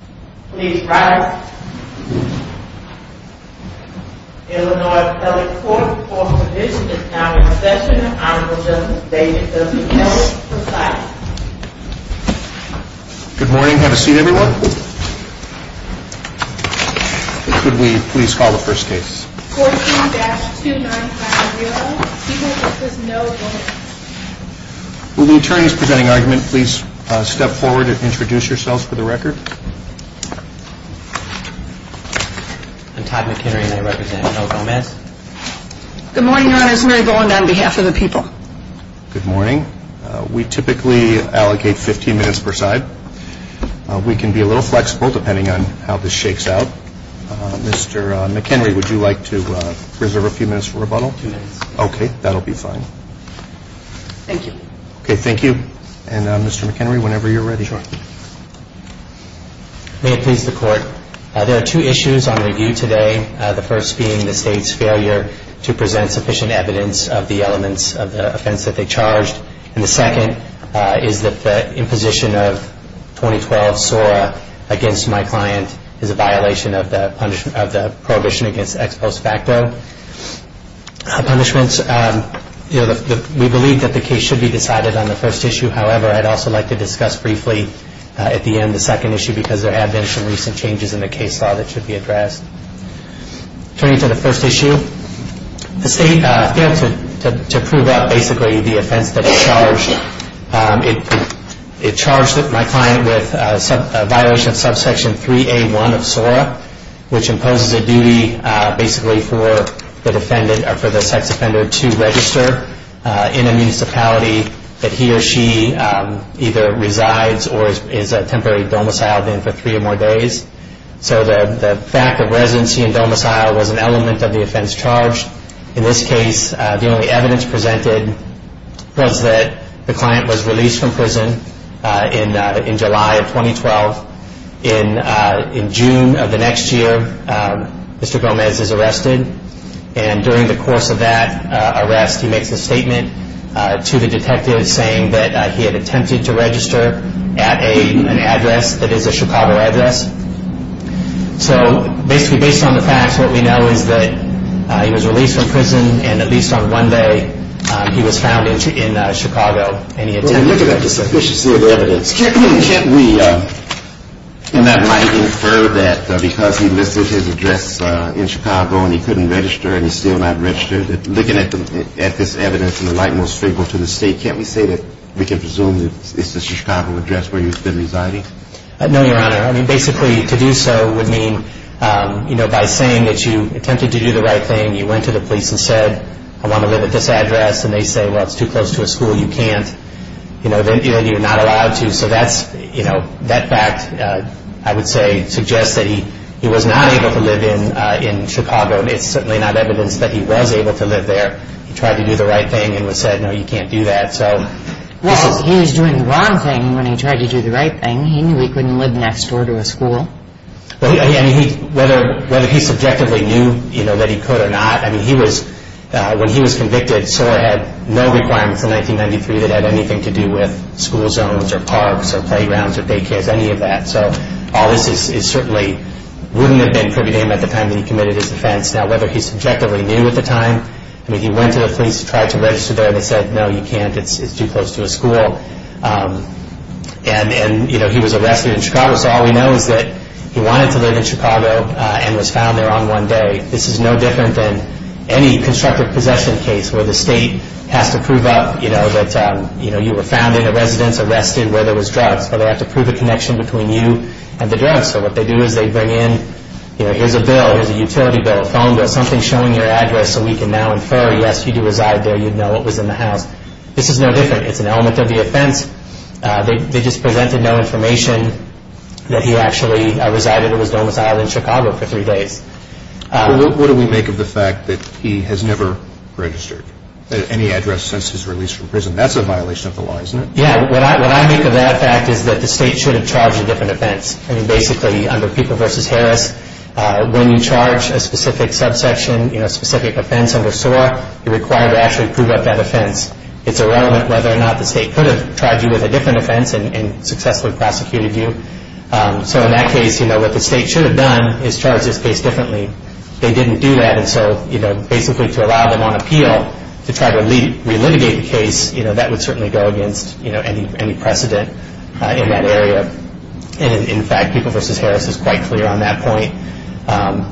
Good morning. Have a seat, everyone. Could we please call the first case? 14-2950. Here, this is No. Will the attorneys presenting argument please step forward and I'll call the first case. Good morning. We typically allocate 15 minutes per side. We can be a little flexible depending on how this shakes out. Mr. McHenry, would you like to reserve a few minutes for rebuttal? Two minutes. Okay, that'll be fine. Thank you. Okay, thank you. And Mr. McHenry, whenever you're ready. Sure. May it please the court. There are two issues on review today. The first being the state's failure to present sufficient evidence of the elements of the offense that they charged. And the second is that the imposition of 2012 SORA against my client is a violation of the prohibition against ex post facto. Punishments. We believe that the case should be decided on the first issue. However, I'd also like to discuss briefly at the end the second issue because there have been some recent changes in the case law that should be addressed. Turning to the first issue, the state failed to prove up basically the offense that it charged. It charged my client with a violation of subsection 3A1 of SORA, which imposes a duty basically for the sex offender to register in a municipality that he or she has a right to either resides or is a temporary domiciled in for three or more days. So the fact of residency and domicile was an element of the offense charged. In this case, the only evidence presented was that the client was released from prison in July of 2012. In June of the next year, Mr. Gomez is arrested. And during the course of that arrest, he makes a statement to the detective saying that he had attempted to register at an address that is a Chicago address. So basically based on the facts, what we know is that he was released from prison and at least on one day he was found in Chicago and he attempted to register. And looking at the sufficiency of the evidence, can't we in that light infer that because he listed his address in Chicago and he couldn't register and he's still not registered, looking at this evidence in the light most favorable to the state, can't we say that we can presume that it's a Chicago address where he's been residing? No, Your Honor. I mean, basically to do so would mean, you know, by saying that you attempted to do the right thing, you went to the police and said, I want to live at this address and they say, well, it's too close to a school, you can't, you know, then you're not allowed to. So that's, you know, that fact I would say suggests that he was not able to live in Chicago and it's certainly not evidence that he was able to live there. He tried to do the right thing and was said, no, you can't do that. Well, he was doing the wrong thing when he tried to do the right thing. He knew he couldn't live next door to a school. I mean, whether he subjectively knew, you know, that he could or not, I mean, he was, when he was convicted, SOAR had no requirements in 1993 that had anything to do with school zones or parks or playgrounds or daycares, any of that. So all this is certainly, wouldn't have been privy to him at the time that he committed his offense. Now, whether he subjectively knew at the time, I mean, he went to the police, tried to register there and they said, no, you can't, it's too close to a school. And, you know, he was arrested in Chicago. So all we know is that he wanted to live in Chicago and was found there on one day. This is no different than any constructive possession case where the state has to prove up, you know, that, you know, you were found in a residence, arrested, where there was drugs, but they have to prove a connection between you and the drugs. So what they do is they bring in, you know, here's a bill, here's a utility bill, a phone bill, something showing your address so we can now infer, yes, you do reside there, you'd know what was in the house. This is no different. It's an element of the offense. They just presented no information that he actually resided or was domiciled in Chicago for three days. Well, what do we make of the fact that he has never registered at any address since his release from prison? That's a violation of the law, isn't it? Yeah, what I make of that fact is that the state should have charged a different offense. I mean, basically, under Fuqua v. Harris, when you charge a specific subsection, you know, a specific offense under SOAR, you're required to actually prove up that offense. It's irrelevant whether or not the state could have charged you with a different offense and successfully prosecuted you. So in that case, you know, what the state should have done is charge this case differently. They didn't do that, and so, you know, basically to allow them on appeal to try to re-litigate the case, you know, that would certainly go against, you know, any precedent in that area. And in fact, Fuqua v. Harris is quite clear on that point.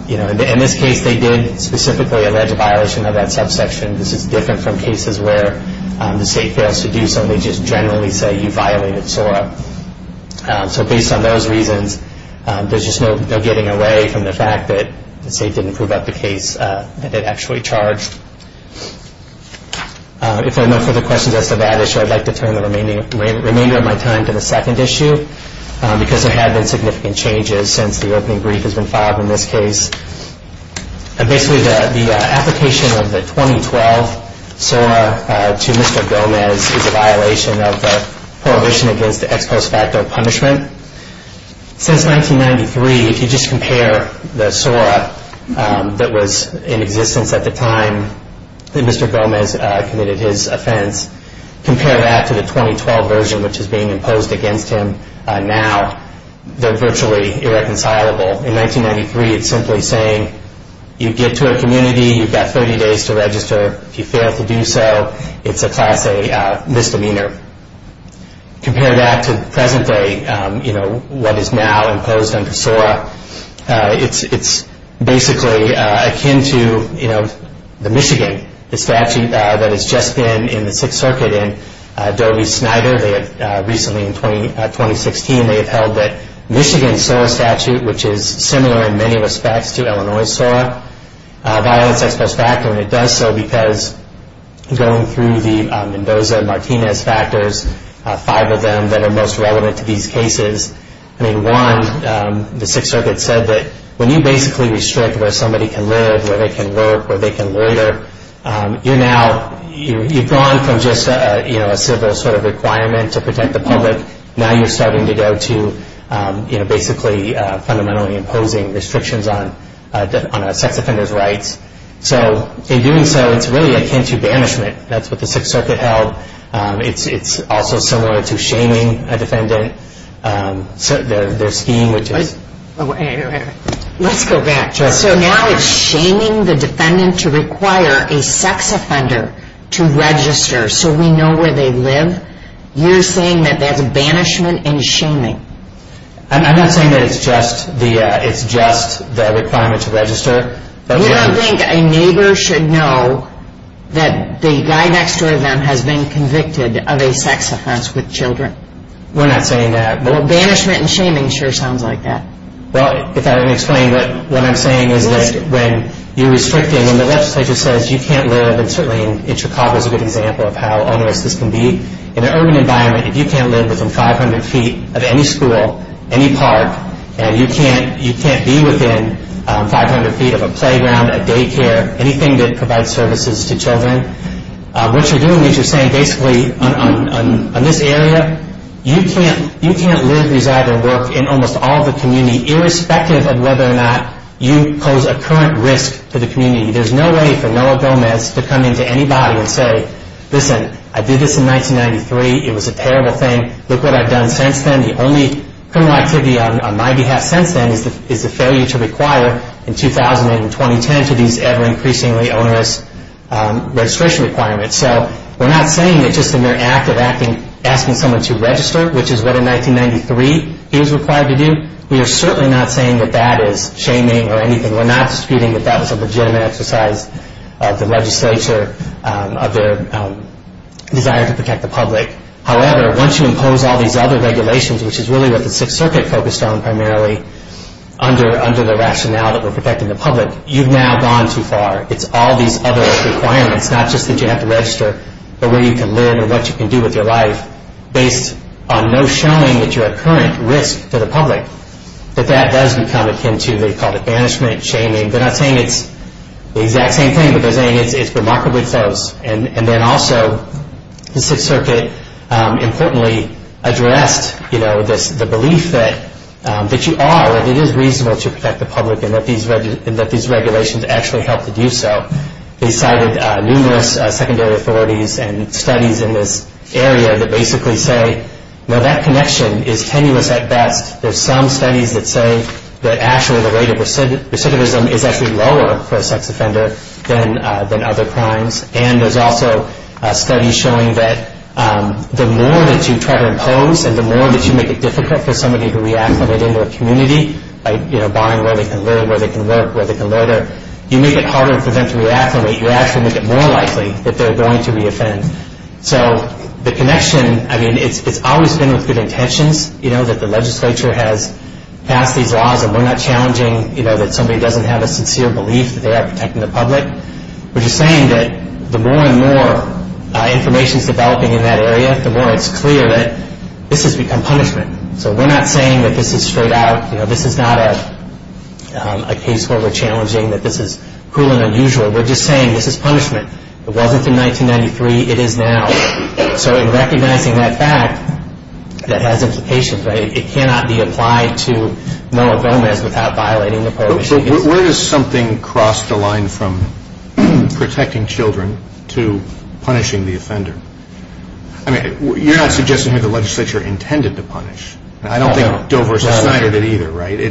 You know, in this case, they did specifically allege a violation of that subsection. This is different from cases where the state fails to do so, and they just generally say you violated SOAR. So based on those reasons, there's just no getting away from the fact that the state didn't prove up the case that it actually charged. If there are no further questions as to that issue, I'd like to turn the remainder of my time to the second issue, because there have been significant changes since the opening brief has been filed in this case. Basically, the application of the 2012 SOAR to Mr. Gomez is a violation of the Prohibition Against Ex Post Facto Punishment. Since 1993, if you just compare the SOAR that was in existence at the time that Mr. Gomez committed his offense, compare that to the 2012 version which is being imposed against him now, they're virtually irreconcilable. In 1993, it's simply saying you get to a community, you've got 30 days to register. If you fail to do so, it's a class A misdemeanor. Compare that to present day, you know, what is now imposed under SOAR. It's basically akin to, you know, the Michigan statute that has just been in the Sixth Circuit. In Doe v. Snyder, recently in 2016, they have held the Michigan SOAR statute, which is similar in many respects to Illinois' SOAR, a violence ex post facto, and it does so because going through the Mendoza-Martinez factors, five of them that are most relevant to these cases, I mean, one, the Sixth Circuit said that when you basically restrict where somebody can live, where they can work, where they can lawyer, you're now, you've gone from just a, you know, a civil sort of requirement to protect the public, now you're starting to go to, you know, basically fundamentally imposing restrictions on a sex offender's rights. So in doing so, it's really akin to banishment. That's what the Sixth Circuit held. It's also similar to shaming a defendant. Their scheme, which is... Let's go back. So now it's shaming the defendant to require a sex offender to register so we know where they live. You're saying that that's banishment and shaming. I'm not saying that it's just the, it's just the requirement to register. You don't think a neighbor should know that the guy next to them has been convicted of a sex offense with children? We're not saying that. Well, banishment and shaming sure sounds like that. Well, if I can explain what I'm saying is that when you're restricting and the legislature says you can't live, and certainly in Chicago is a good example of how onerous this can be. In an urban environment, if you can't live within 500 feet of any school, any park, and you can't be within 500 feet of a playground, a daycare, anything that provides services to children, what you're doing is you're saying basically on this area, you can't live, reside, or work in almost all of the community irrespective of whether or not you pose a current risk to the community. There's no way for Noah Gomez to come into anybody and say, listen, I did this in 1993. It was a terrible thing. Look what I've done since then. The only criminal activity on my behalf since then is the failure to require in 2000 and 2010 to these ever increasingly onerous registration requirements. So we're not saying that just a mere act of asking someone to register, which is what in 1993 he was required to do, we are certainly not saying that that is shaming or anything. We're not disputing that that was a legitimate exercise of the legislature, of their desire to protect the public. However, once you impose all these other regulations, which is really what the Sixth Circuit focused on primarily under the rationale that we're protecting the public, you've now gone too far. It's all these other requirements, not just that you have to register, but where you can live and what you can do with your life based on no showing that you're a current risk to the public, that that does become akin to what they call the banishment, shaming. They're not saying it's the exact same thing, but they're saying it's remarkably close. And then also the Sixth Circuit importantly addressed the belief that you are, that it is reasonable to protect the public and that these regulations actually help to do so. They cited numerous secondary authorities and studies in this area that basically say now that connection is tenuous at best. There's some studies that say that actually the rate of recidivism is actually lower for There's also studies showing that the more that you try to impose and the more that you make it difficult for somebody to re-acclimate into a community by barring where they can live, where they can work, where they can lawyer, you make it harder for them to re-acclimate. You actually make it more likely that they're going to re-offend. So the connection, I mean, it's always been with good intentions that the legislature has passed these laws and we're not challenging that somebody doesn't have a sincere belief that they are protecting the public. We're just saying that the more and more information is developing in that area, the more it's clear that this has become punishment. So we're not saying that this is straight out, you know, this is not a case where we're challenging that this is cruel and unusual. We're just saying this is punishment. It wasn't in 1993. It is now. So in recognizing that fact, that has implications, right? It cannot be applied to Noah Gomez without violating the prohibitions. So where does something cross the line from protecting children to punishing the offender? I mean, you're not suggesting that the legislature intended to punish. I don't think Dover or Snyder did either, right? You're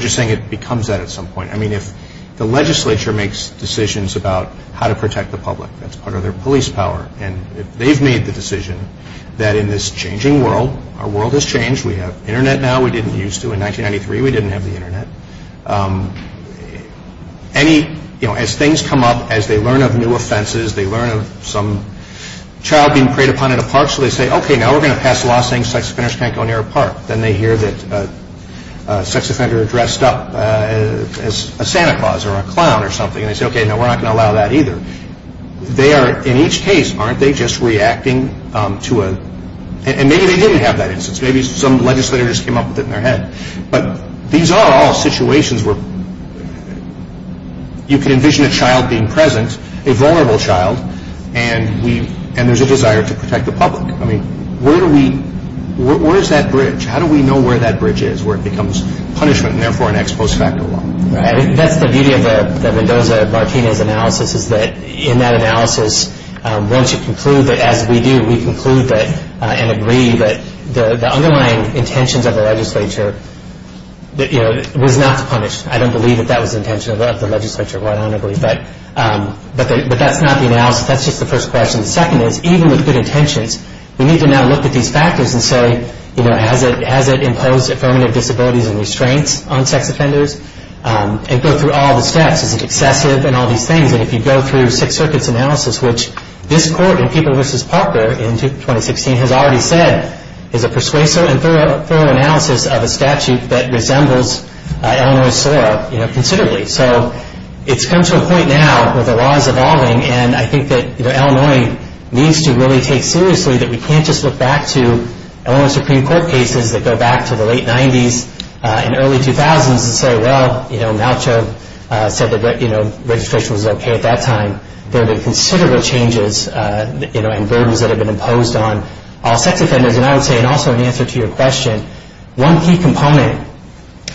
just saying it becomes that at some point. I mean, if the legislature makes decisions about how to protect the public, that's part of their police power. And if they've made the decision that in this changing world, our world has changed, we have Internet now we didn't used to. In 1993, we didn't have the Internet. Any, you know, as things come up, as they learn of new offenses, they learn of some child being preyed upon in a park. So they say, okay, now we're going to pass a law saying sex offenders can't go near a park. Then they hear that a sex offender addressed up as a Santa Claus or a clown or something. And they say, okay, no, we're not going to allow that either. They are, in each case, aren't they just reacting to a, and maybe they didn't have that instance. Maybe some legislator just came up with it in their head. But these are all situations where you can envision a child being present, a vulnerable child, and there's a desire to protect the public. I mean, where do we, where is that bridge? How do we know where that bridge is, where it becomes punishment and therefore an ex post facto law? That's the beauty of the Mendoza-Martinez analysis is that in that analysis, once you conclude that, as we do, we conclude that and agree that the underlying intentions of the legislature was not to punish. I don't believe that that was the intention of the legislature. I don't agree. But that's not the analysis. That's just the first question. The second is, even with good intentions, we need to now look at these factors and say, has it imposed affirmative disabilities and restraints on sex offenders? And go through all the steps. Is it excessive and all these things? And if you go through Sixth Circuit's analysis, which this court in Cooper v. Parker in 2016 has already said is a persuasive and thorough analysis of a statute that resembles Illinois SOAR considerably. So it's come to a point now where the law is evolving, and I think that Illinois needs to really take seriously that we can't just look back to Illinois Supreme Court cases that go back to the late 90s and early 2000s and say, well, Malchow said that registration was okay at that time. There have been considerable changes and burdens that have been imposed on all sex offenders. And I would say, and also in answer to your question, one key component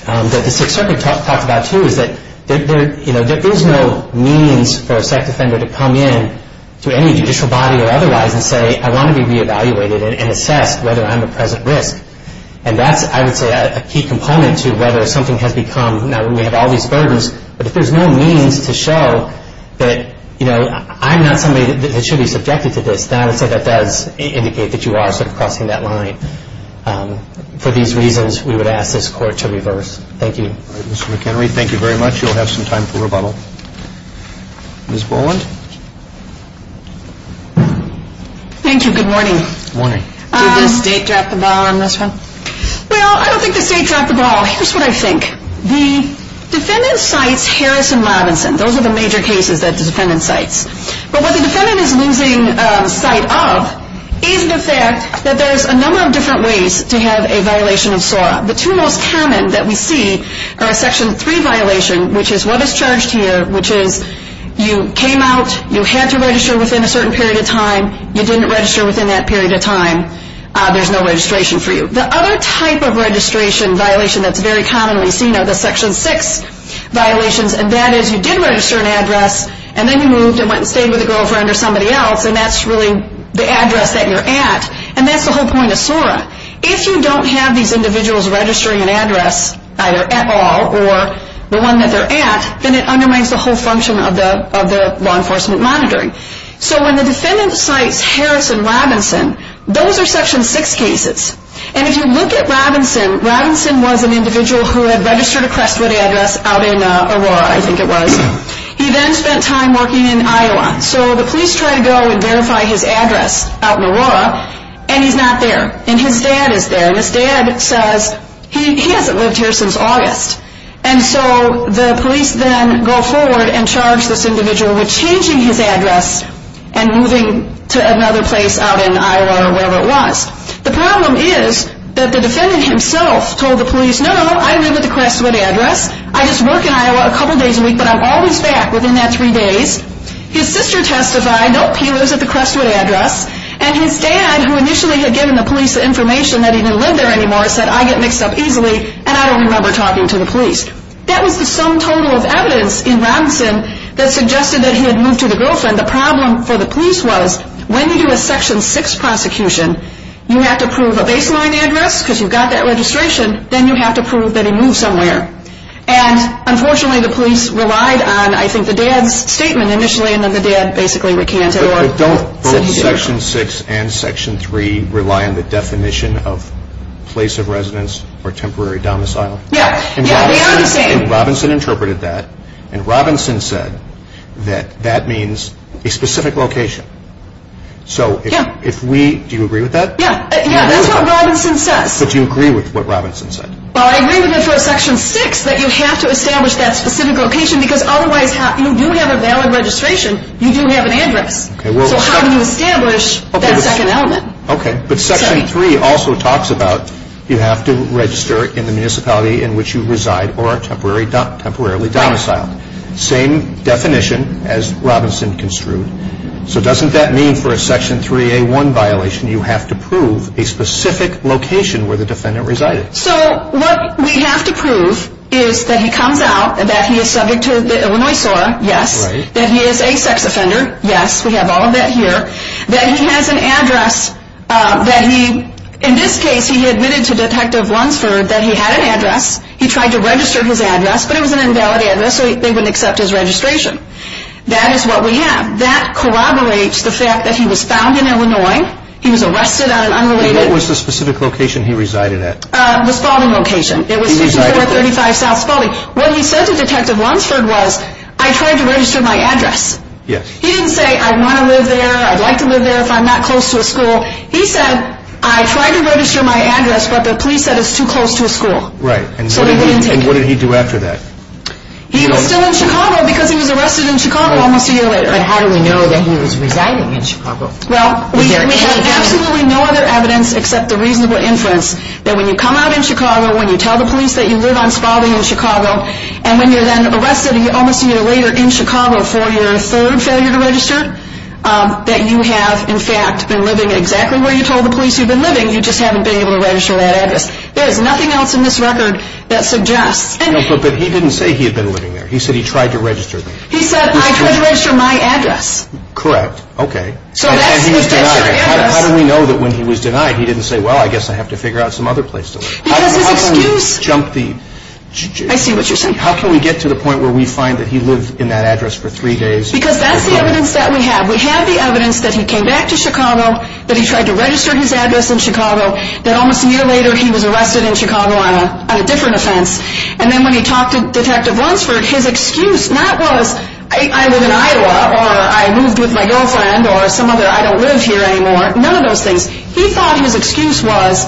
that the Sixth Circuit talked about too is that there is no means for a sex offender to come in to any judicial body or otherwise and say, I want to be reevaluated and assessed whether I'm a present risk. And that's, I would say, a key component to whether something has become, now we have all these burdens, but if there's no means to show that, you know, I'm not somebody that should be subjected to this, then I would say that does indicate that you are sort of crossing that line. For these reasons, we would ask this court to reverse. Thank you. Mr. McHenry, thank you very much. You'll have some time for rebuttal. Ms. Boland? Thank you. Good morning. Good morning. Did the State drop the ball on this one? Well, I don't think the State dropped the ball. Here's what I think. The defendant cites Harris and Robinson. Those are the major cases that the defendant cites. But what the defendant is losing sight of is the fact that there's a number of different ways to have a violation of SORA. The two most common that we see are a Section 3 violation, which is what is charged here, which is you came out, you had to register within a certain period of time, you didn't register within that period of time, there's no registration for you. The other type of registration violation that's very commonly seen are the Section 6 violations, and that is you did register an address, and then you moved and went and stayed with a girlfriend or somebody else, and that's really the address that you're at, and that's the whole point of SORA. If you don't have these individuals registering an address, either at all or the one that they're at, then it undermines the whole function of the law enforcement monitoring. So when the defendant cites Harris and Robinson, those are Section 6 cases. And if you look at Robinson, Robinson was an individual who had registered a Crestwood address out in Aurora, I think it was. He then spent time working in Iowa. So the police try to go and verify his address out in Aurora, and he's not there. And his dad is there, and his dad says he hasn't lived here since August. And so the police then go forward and charge this individual with changing his address and moving to another place out in Iowa or wherever it was. The problem is that the defendant himself told the police, no, no, I live at the Crestwood address. I just work in Iowa a couple days a week, but I'm always back within that three days. His sister testified, nope, he lives at the Crestwood address. And his dad, who initially had given the police the information that he didn't live there anymore, said, I get mixed up easily, and I don't remember talking to the police. That was the sum total of evidence in Robinson that suggested that he had moved to the girlfriend. The problem for the police was when you do a Section 6 prosecution, you have to prove a baseline address because you've got that registration. Then you have to prove that he moved somewhere. And unfortunately, the police relied on, I think, the dad's statement initially, and then the dad basically recanted. But don't both Section 6 and Section 3 rely on the definition of place of residence or temporary domicile? Yeah, yeah, they are the same. And Robinson interpreted that, and Robinson said that that means a specific location. So if we, do you agree with that? Yeah, yeah, that's what Robinson says. So do you agree with what Robinson said? Well, I agree with him for a Section 6 that you have to establish that specific location because otherwise you do have a valid registration, you do have an address. So how do you establish that second element? Okay, but Section 3 also talks about you have to register in the municipality in which you reside or are temporarily domiciled. Same definition as Robinson construed. So doesn't that mean for a Section 3A1 violation you have to prove a specific location where the defendant resided? So what we have to prove is that he comes out, that he is subject to the Illinois SOAR, yes. That he is a sex offender, yes. We have all of that here. That he has an address, that he, in this case he admitted to Detective Lunsford that he had an address. He tried to register his address, but it was an invalid address, so they wouldn't accept his registration. That is what we have. That corroborates the fact that he was found in Illinois, he was arrested on an unrelated... And what was the specific location he resided at? The Spalding location. It was 5435 South Spalding. What he said to Detective Lunsford was, I tried to register my address. Yes. He didn't say, I want to live there, I'd like to live there if I'm not close to a school. He said, I tried to register my address, but the police said it's too close to a school. Right. So they wouldn't take it. And what did he do after that? He was still in Chicago because he was arrested in Chicago almost a year later. And how do we know that he was residing in Chicago? Well, we have absolutely no other evidence except the reasonable inference that when you come out in Chicago, when you tell the police that you live on Spalding in Chicago, and when you're then arrested almost a year later in Chicago for your third failure to register, that you have, in fact, been living exactly where you told the police you've been living. You just haven't been able to register that address. There is nothing else in this record that suggests... But he didn't say he had been living there. He said he tried to register. He said, I tried to register my address. Correct. Okay. And he was denied it. How do we know that when he was denied he didn't say, well, I guess I have to figure out some other place to live? Because his excuse... How can we jump the... I see what you're saying. How can we get to the point where we find that he lived in that address for three days? Because that's the evidence that we have. We have the evidence that he came back to Chicago, that he tried to register his address in Chicago, that almost a year later he was arrested in Chicago on a different offense. And then when he talked to Detective Lunsford, his excuse not was, I live in Iowa, or I moved with my girlfriend, or some other, I don't live here anymore, none of those things. He thought his excuse was,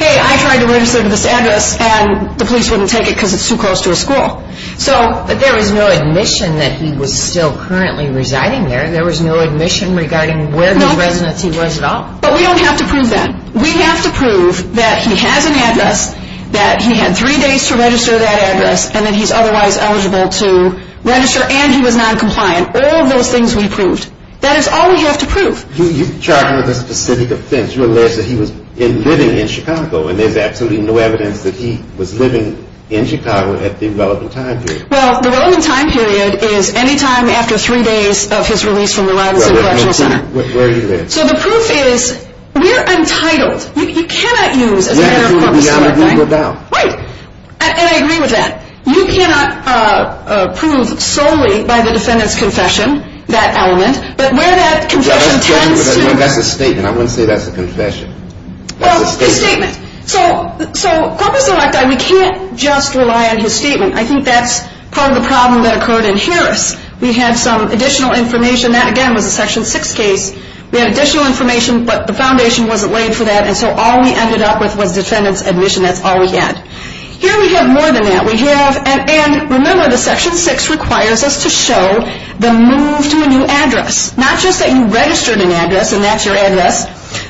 hey, I tried to register this address, and the police wouldn't take it because it's too close to a school. But there was no admission that he was still currently residing there. There was no admission regarding where the residence he was at all. But we don't have to prove that. We have to prove that he has an address, that he had three days to register that address, and that he's otherwise eligible to register, and he was noncompliant. All of those things we proved. That is all we have to prove. You charged him with a specific offense. You allege that he was living in Chicago, and there's absolutely no evidence that he was living in Chicago at the relevant time period. Well, the relevant time period is any time after three days of his release from the Robinson Correctional Center. Well, where did he live? So the proof is, we're entitled. You cannot use as a mere corpus the same thing. Where did he live? Right. And I agree with that. You cannot prove solely by the defendant's confession that element. But where that confession tends to. That's a statement. I wouldn't say that's a confession. Well, it's a statement. So corpus electi, we can't just rely on his statement. I think that's part of the problem that occurred in Harris. We had some additional information. That, again, was a Section 6 case. We had additional information, but the foundation wasn't laid for that, and so all we ended up with was the defendant's admission. That's all we had. Here we have more than that. We have, and remember, the Section 6 requires us to show the move to a new address. Not just that you registered an address and that's your address,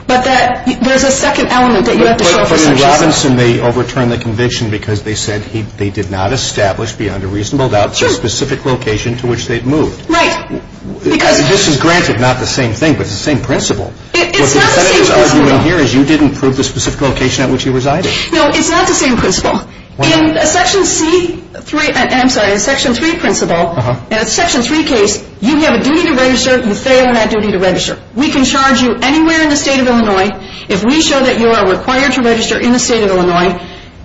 but that there's a second element that you have to show for Section 6. But in Robinson, they overturned the conviction because they said they did not establish beyond a reasonable doubt the specific location to which they'd moved. Right. This is granted not the same thing, but it's the same principle. What the defendants are arguing here is you didn't prove the specific location at which you resided. No, it's not the same principle. In a Section 3 principle, in a Section 3 case, you have a duty to register. You fail in that duty to register. We can charge you anywhere in the state of Illinois if we show that you are required to register in the state of Illinois.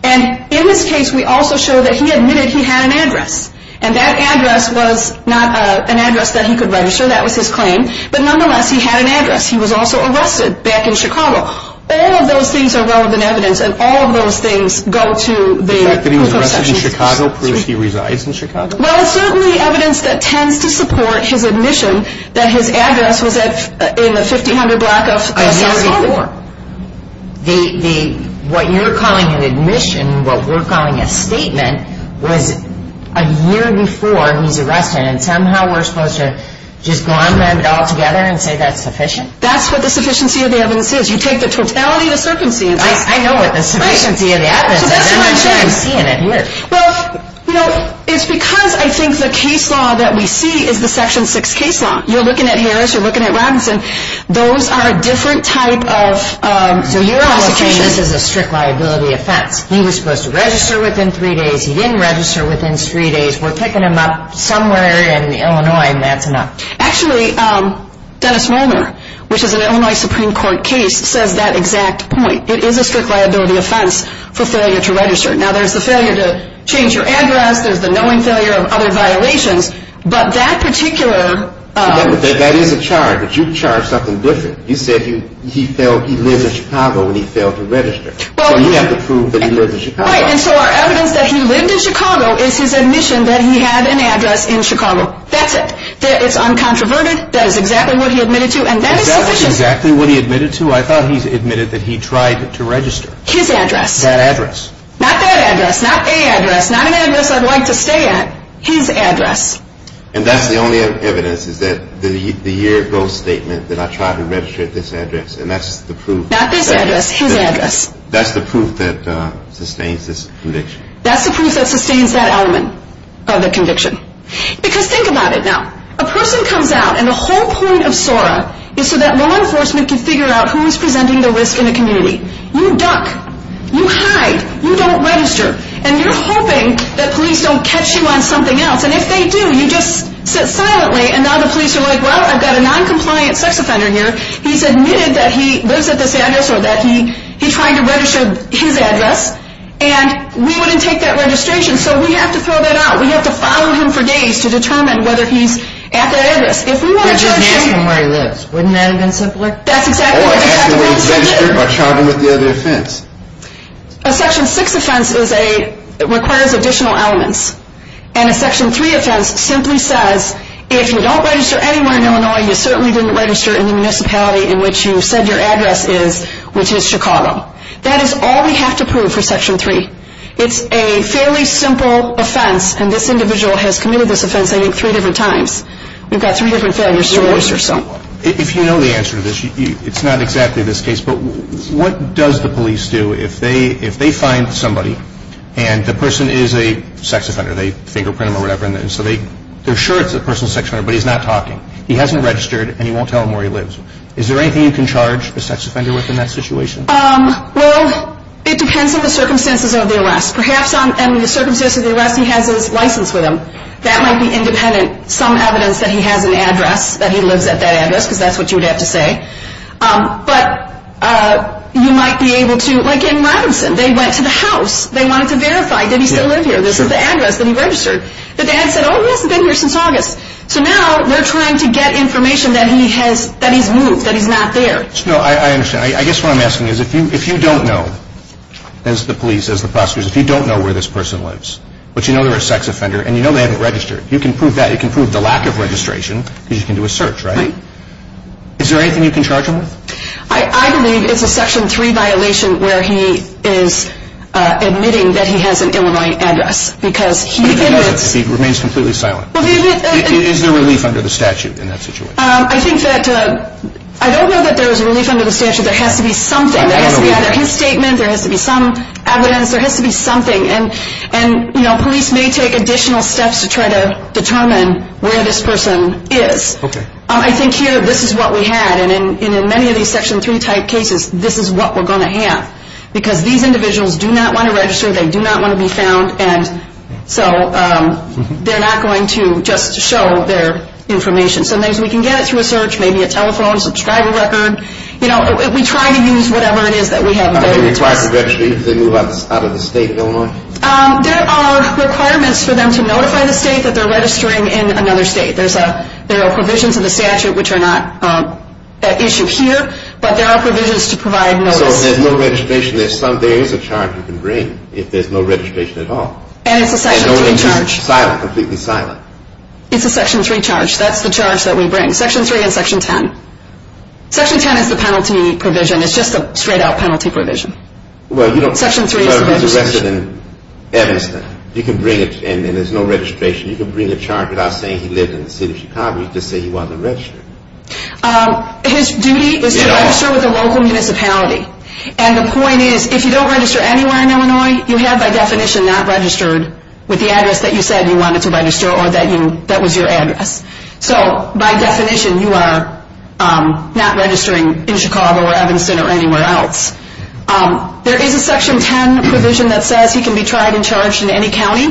And in this case, we also show that he admitted he had an address, and that address was not an address that he could register. That was his claim. But nonetheless, he had an address. He was also arrested back in Chicago. All of those things are relevant evidence, and all of those things go to the Prosecutor's Office. The fact that he was arrested in Chicago proves he resides in Chicago? Well, it's certainly evidence that tends to support his admission that his address was in the 1500 block of South 4th. What you're calling an admission, what we're calling a statement, was a year before he was arrested, and somehow we're supposed to just go on with it altogether and say that's sufficient? That's what the sufficiency of the evidence is. You take the totality of the circumstances. I know what the sufficiency of the evidence is. That's what I'm saying. I'm seeing it here. Well, you know, it's because I think the case law that we see is the Section 6 case law. You're looking at Harris. You're looking at Robinson. Those are a different type of prosecution. So you're also saying this is a strict liability offense. He was supposed to register within three days. He didn't register within three days. We're picking him up somewhere in Illinois, and that's enough. Actually, Dennis Molner, which is an Illinois Supreme Court case, says that exact point. It is a strict liability offense for failure to register. Now, there's the failure to change your address. There's the knowing failure of other violations. But that particular – That is a charge, but you charged something different. You said he lived in Chicago when he failed to register. So you have to prove that he lived in Chicago. Right, and so our evidence that he lived in Chicago is his admission that he had an address in Chicago. That's it. It's uncontroverted. That is exactly what he admitted to, and that is sufficient. Is that exactly what he admitted to? I thought he admitted that he tried to register. His address. That address. Not that address. Not a address. Not an address I'd like to stay at. His address. And that's the only evidence is that the year-ago statement that I tried to register at this address, and that's the proof. Not this address. His address. That's the proof that sustains this conviction. That's the proof that sustains that element of the conviction. Because think about it now. A person comes out, and the whole point of SORA is so that law enforcement can figure out who is presenting the risk in a community. You duck. You hide. You don't register. And you're hoping that police don't catch you on something else, and if they do, you just sit silently, and now the police are like, well, I've got a noncompliant sex offender here. He's admitted that he lives at this address or that he tried to register his address, and we wouldn't take that registration, so we have to throw that out. We have to follow him for days to determine whether he's at that address. If we want to charge him. But just ask him where he lives. Wouldn't that have been simpler? That's exactly what we have to do. Or ask him where he's registered or charge him with the other offense. A Section 6 offense is a, requires additional elements, and a Section 3 offense simply says, if you don't register anywhere in Illinois, you certainly didn't register in the municipality in which you said your address is, which is Chicago. That is all we have to prove for Section 3. It's a fairly simple offense, and this individual has committed this offense, I think, three different times. We've got three different failures to register. If you know the answer to this, it's not exactly this case, but what does the police do if they find somebody, and the person is a sex offender, they fingerprint them or whatever, and so they're sure it's a personal sex offender, but he's not talking. He hasn't registered, and he won't tell them where he lives. Is there anything you can charge a sex offender with in that situation? Well, it depends on the circumstances of the arrest. Perhaps in the circumstances of the arrest, he has his license with him. That might be independent, some evidence that he has an address, that he lives at that address, because that's what you would have to say. But you might be able to, like in Robinson, they went to the house. They wanted to verify, did he still live here? This is the address that he registered. The dad said, oh, he hasn't been here since August. So now they're trying to get information that he's moved, that he's not there. I understand. I guess what I'm asking is, if you don't know, as the police, as the prosecutors, if you don't know where this person lives, but you know they're a sex offender, and you know they haven't registered, you can prove that. You can prove the lack of registration, because you can do a search, right? Is there anything you can charge him with? I believe it's a Section 3 violation where he is admitting that he has an Illinois address, because he admits... But if he doesn't, he remains completely silent. Is there relief under the statute in that situation? I think that, I don't know that there is relief under the statute. There has to be something. There has to be either his statement, there has to be some evidence, there has to be something. And, you know, police may take additional steps to try to determine where this person is. I think here, this is what we had. And in many of these Section 3 type cases, this is what we're going to have. Because these individuals do not want to register, they do not want to be found, and so they're not going to just show their information. Sometimes we can get it through a search, maybe a telephone, subscriber record. You know, we try to use whatever it is that we have available to us. Are they required to register even if they move out of the state of Illinois? There are requirements for them to notify the state that they're registering in another state. There are provisions in the statute which are not at issue here, but there are provisions to provide notice. So if there's no registration, there is a charge you can bring if there's no registration at all. And it's a Section 3 charge. And only if he's silent, completely silent. It's a Section 3 charge. That's the charge that we bring. Section 3 and Section 10. Section 10 is the penalty provision. It's just a straight-out penalty provision. Well, you don't… Section 3 is the penalty provision. So if he's arrested in Evanston, you can bring it and there's no registration. You can bring a charge without saying he lived in the city of Chicago. You can just say he wasn't registered. His duty is to register with a local municipality. And the point is, if you don't register anywhere in Illinois, you have by definition not registered with the address that you said you wanted to register or that was your address. So by definition, you are not registering in Chicago or Evanston or anywhere else. There is a Section 10 provision that says he can be tried and charged in any county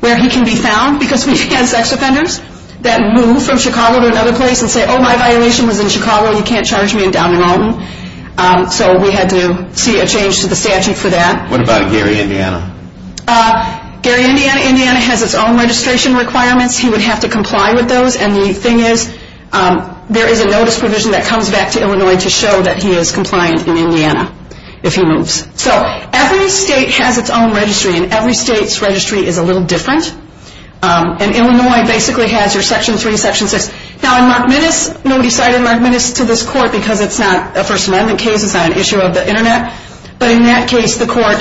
where he can be found because we've had sex offenders that move from Chicago to another place and say, oh, my violation was in Chicago, you can't charge me in Downing Alton. So we had to see a change to the statute for that. What about Gary, Indiana? Gary, Indiana? Indiana has its own registration requirements. He would have to comply with those. And the thing is, there is a notice provision that comes back to Illinois to show that he is compliant in Indiana if he moves. So every state has its own registry, and every state's registry is a little different. And Illinois basically has your Section 3 and Section 6. Now in Mark Minnis, nobody cited Mark Minnis to this court because it's not a First Amendment case, it's not an issue of the Internet. But in that case, the court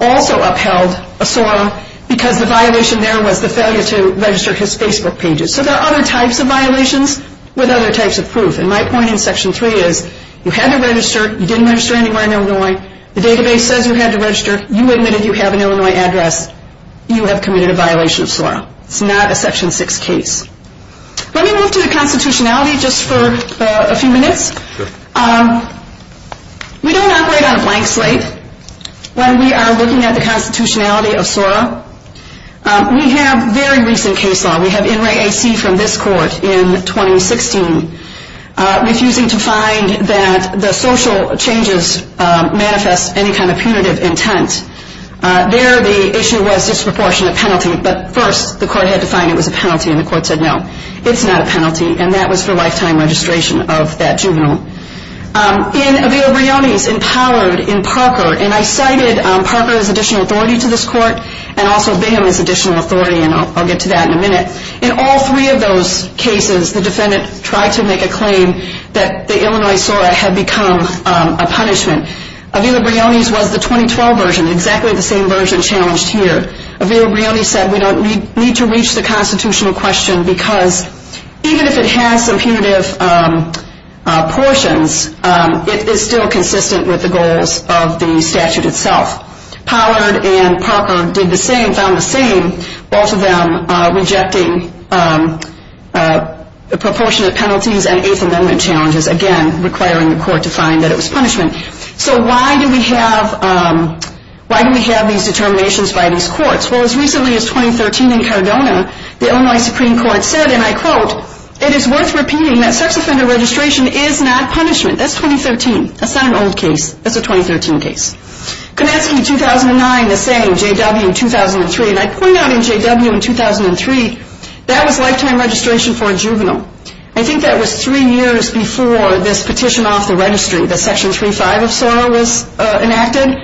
also upheld Osorio because the violation there was the failure to register his Facebook pages. So there are other types of violations with other types of proof. And my point in Section 3 is you had to register, you didn't register anywhere in Illinois, the database says you had to register, you admitted you have an Illinois address, you have committed a violation of SORA. It's not a Section 6 case. Let me move to the constitutionality just for a few minutes. We don't operate on a blank slate when we are looking at the constitutionality of SORA. We have very recent case law. We have NRAC from this court in 2016 refusing to find that the social changes manifest any kind of punitive intent. There the issue was disproportionate penalty, but first the court had to find it was a penalty, and the court said no. It's not a penalty, and that was for lifetime registration of that juvenile. In Avila Brioni's empowered in Parker, and I cited Parker as additional authority to this court, and also Bingham as additional authority, and I'll get to that in a minute. In all three of those cases, the defendant tried to make a claim that the Illinois SORA had become a punishment. Avila Brioni's was the 2012 version, exactly the same version challenged here. Avila Brioni said we don't need to reach the constitutional question because even if it has some punitive portions, it is still consistent with the goals of the statute itself. Powered and Parker did the same, found the same, both of them rejecting the proportionate penalties and eighth amendment challenges, again requiring the court to find that it was punishment. So why do we have these determinations by these courts? Well, as recently as 2013 in Cardona, the Illinois Supreme Court said, and I quote, it is worth repeating that sex offender registration is not punishment. That's 2013. That's not an old case. That's a 2013 case. Konetsky, 2009, the same, J.W. in 2003, and I pointed out in J.W. in 2003, that was lifetime registration for a juvenile. I think that was three years before this petition off the registry, the section 35 of SORA was enacted.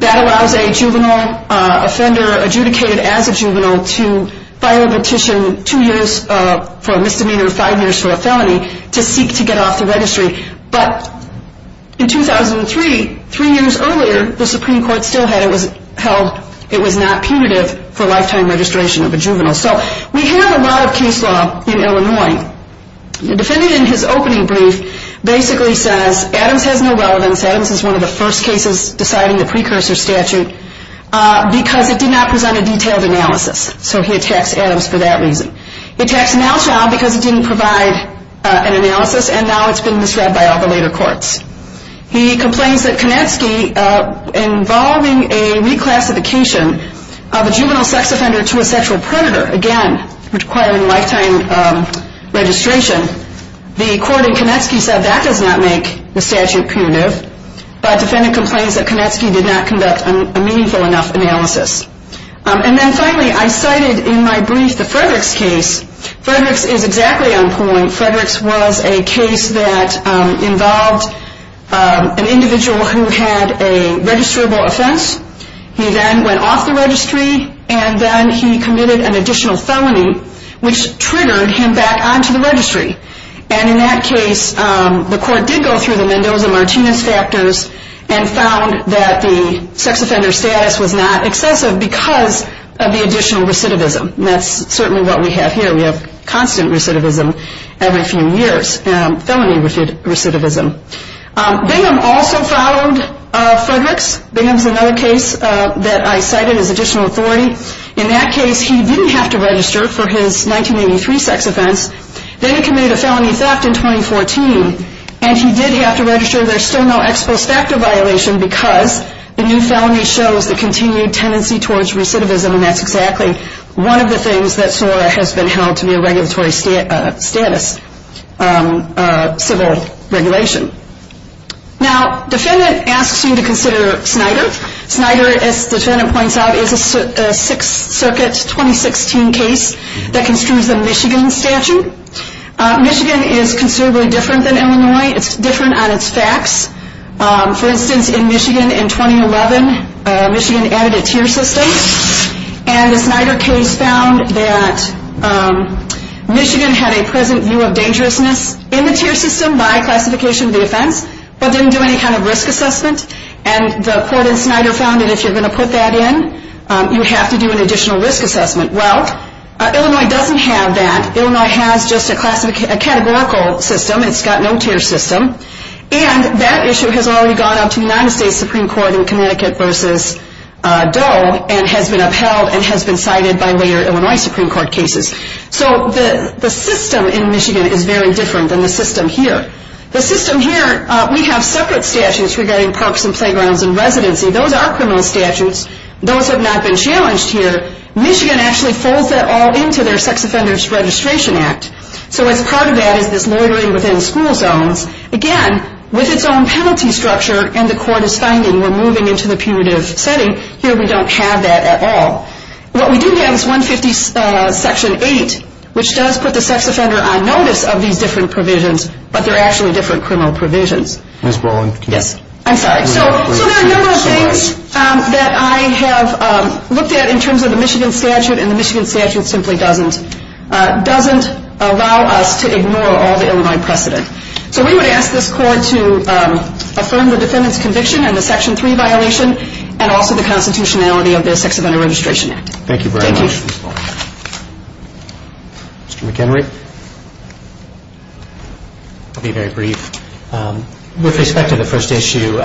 That allows a juvenile offender adjudicated as a juvenile to file a petition two years for a misdemeanor, five years for a felony, to seek to get off the registry. But in 2003, three years earlier, the Supreme Court still held it was not punitive for lifetime registration of a juvenile. So we have a lot of case law in Illinois. The defendant in his opening brief basically says Adams has no relevance. Adams is one of the first cases deciding the precursor statute because it did not present a detailed analysis. So he attacks Adams for that reason. He attacks Nalschild because it didn't provide an analysis, and now it's been misread by all the later courts. He complains that Konetsky involving a reclassification of a juvenile sex offender to a sexual predator, again, requiring lifetime registration, the court in Konetsky said that does not make the statute punitive. But the defendant complains that Konetsky did not conduct a meaningful enough analysis. And then finally, I cited in my brief the Fredericks case. Fredericks is exactly on point. Fredericks was a case that involved an individual who had a registrable offense. He then went off the registry, and then he committed an additional felony, which triggered him back onto the registry. And in that case, the court did go through the Mendoza-Martinez factors and found that the sex offender status was not excessive because of the additional recidivism. That's certainly what we have here. We have constant recidivism every few years, felony recidivism. Bingham also followed Fredericks. Bingham is another case that I cited as additional authority. In that case, he didn't have to register for his 1983 sex offense. Then he committed a felony theft in 2014, and he did have to register. There's still no ex post facto violation because the new felony shows the continued tendency towards recidivism, and that's exactly one of the things that SORA has been held to be a regulatory status civil regulation. Now, defendant asks me to consider Snyder. Snyder, as the defendant points out, is a Sixth Circuit 2016 case that construes the Michigan statute. Michigan is considerably different than Illinois. It's different on its facts. For instance, in Michigan in 2011, Michigan added a tier system, and the Snyder case found that Michigan had a present view of dangerousness in the tier system by classification of the offense but didn't do any kind of risk assessment, and the court in Snyder found that if you're going to put that in, you have to do an additional risk assessment. Well, Illinois doesn't have that. Illinois has just a categorical system. It's got no tier system. And that issue has already gone up to the United States Supreme Court in Connecticut versus Doe and has been upheld and has been cited by later Illinois Supreme Court cases. So the system in Michigan is very different than the system here. The system here, we have separate statutes regarding parks and playgrounds and residency. Those are criminal statutes. Those have not been challenged here. Michigan actually folds that all into their Sex Offenders Registration Act. So as part of that is this loitering within school zones, again, with its own penalty structure, and the court is finding we're moving into the punitive setting. Here we don't have that at all. What we do have is 150 section 8, which does put the sex offender on notice of these different provisions, but they're actually different criminal provisions. Ms. Brolin. Yes, I'm sorry. So there are a number of things that I have looked at in terms of the Michigan statute, and the Michigan statute simply doesn't allow us to ignore all the Illinois precedent. So we would ask this court to affirm the defendant's conviction and the section 3 violation and also the constitutionality of their Sex Offender Registration Act. Thank you very much, Ms. Brolin. Mr. McHenry. Yes, sir. I'll be very brief. With respect to the first issue,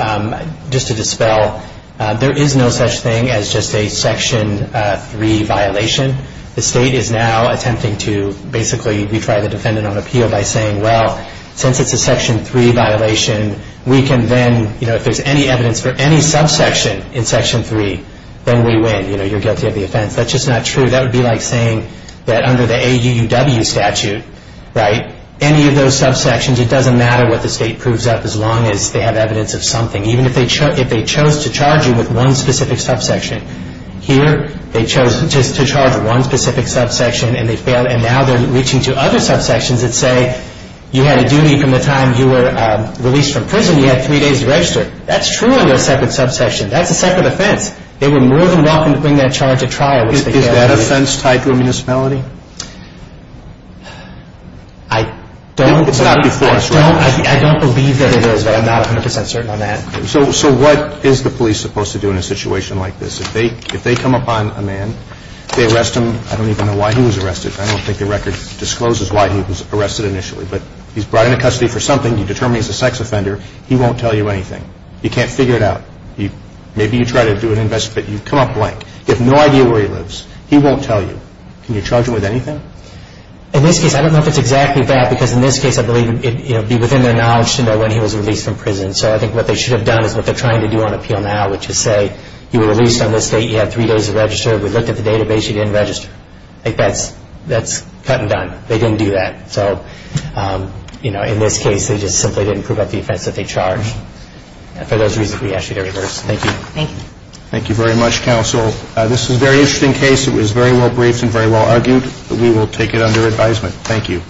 just to dispel, there is no such thing as just a section 3 violation. The state is now attempting to basically retry the defendant on appeal by saying, well, since it's a section 3 violation, we can then, you know, if there's any evidence for any subsection in section 3, then we win. You know, you're guilty of the offense. That's just not true. That would be like saying that under the AUUW statute, right, any of those subsections, it doesn't matter what the state proves up as long as they have evidence of something, even if they chose to charge you with one specific subsection. Here they chose just to charge one specific subsection and they failed, and now they're reaching to other subsections that say you had a duty from the time you were released from prison, you had three days to register. That's true on your separate subsection. That's a separate offense. They were more than welcome to bring that charge to trial. Is that offense tied to a municipality? I don't believe that it is, but I'm not 100% certain on that. So what is the police supposed to do in a situation like this? If they come upon a man, they arrest him. I don't even know why he was arrested. I don't think the record discloses why he was arrested initially, but he's brought into custody for something. You determine he's a sex offender. He won't tell you anything. You can't figure it out. Maybe you try to do an investigation, but you come up blank. You have no idea where he lives. He won't tell you. Can you charge him with anything? In this case, I don't know if it's exactly that, because in this case, I believe it would be within their knowledge to know when he was released from prison. So I think what they should have done is what they're trying to do on appeal now, which is say you were released on this date, you had three days to register. We looked at the database, you didn't register. I think that's cut and done. They didn't do that. So, you know, in this case, they just simply didn't prove up the offense that they charged. For those reasons, we ask you to reverse. Thank you. Thank you. Thank you very much, counsel. This is a very interesting case. It was very well briefed and very well argued. We will take it under advisement. Thank you.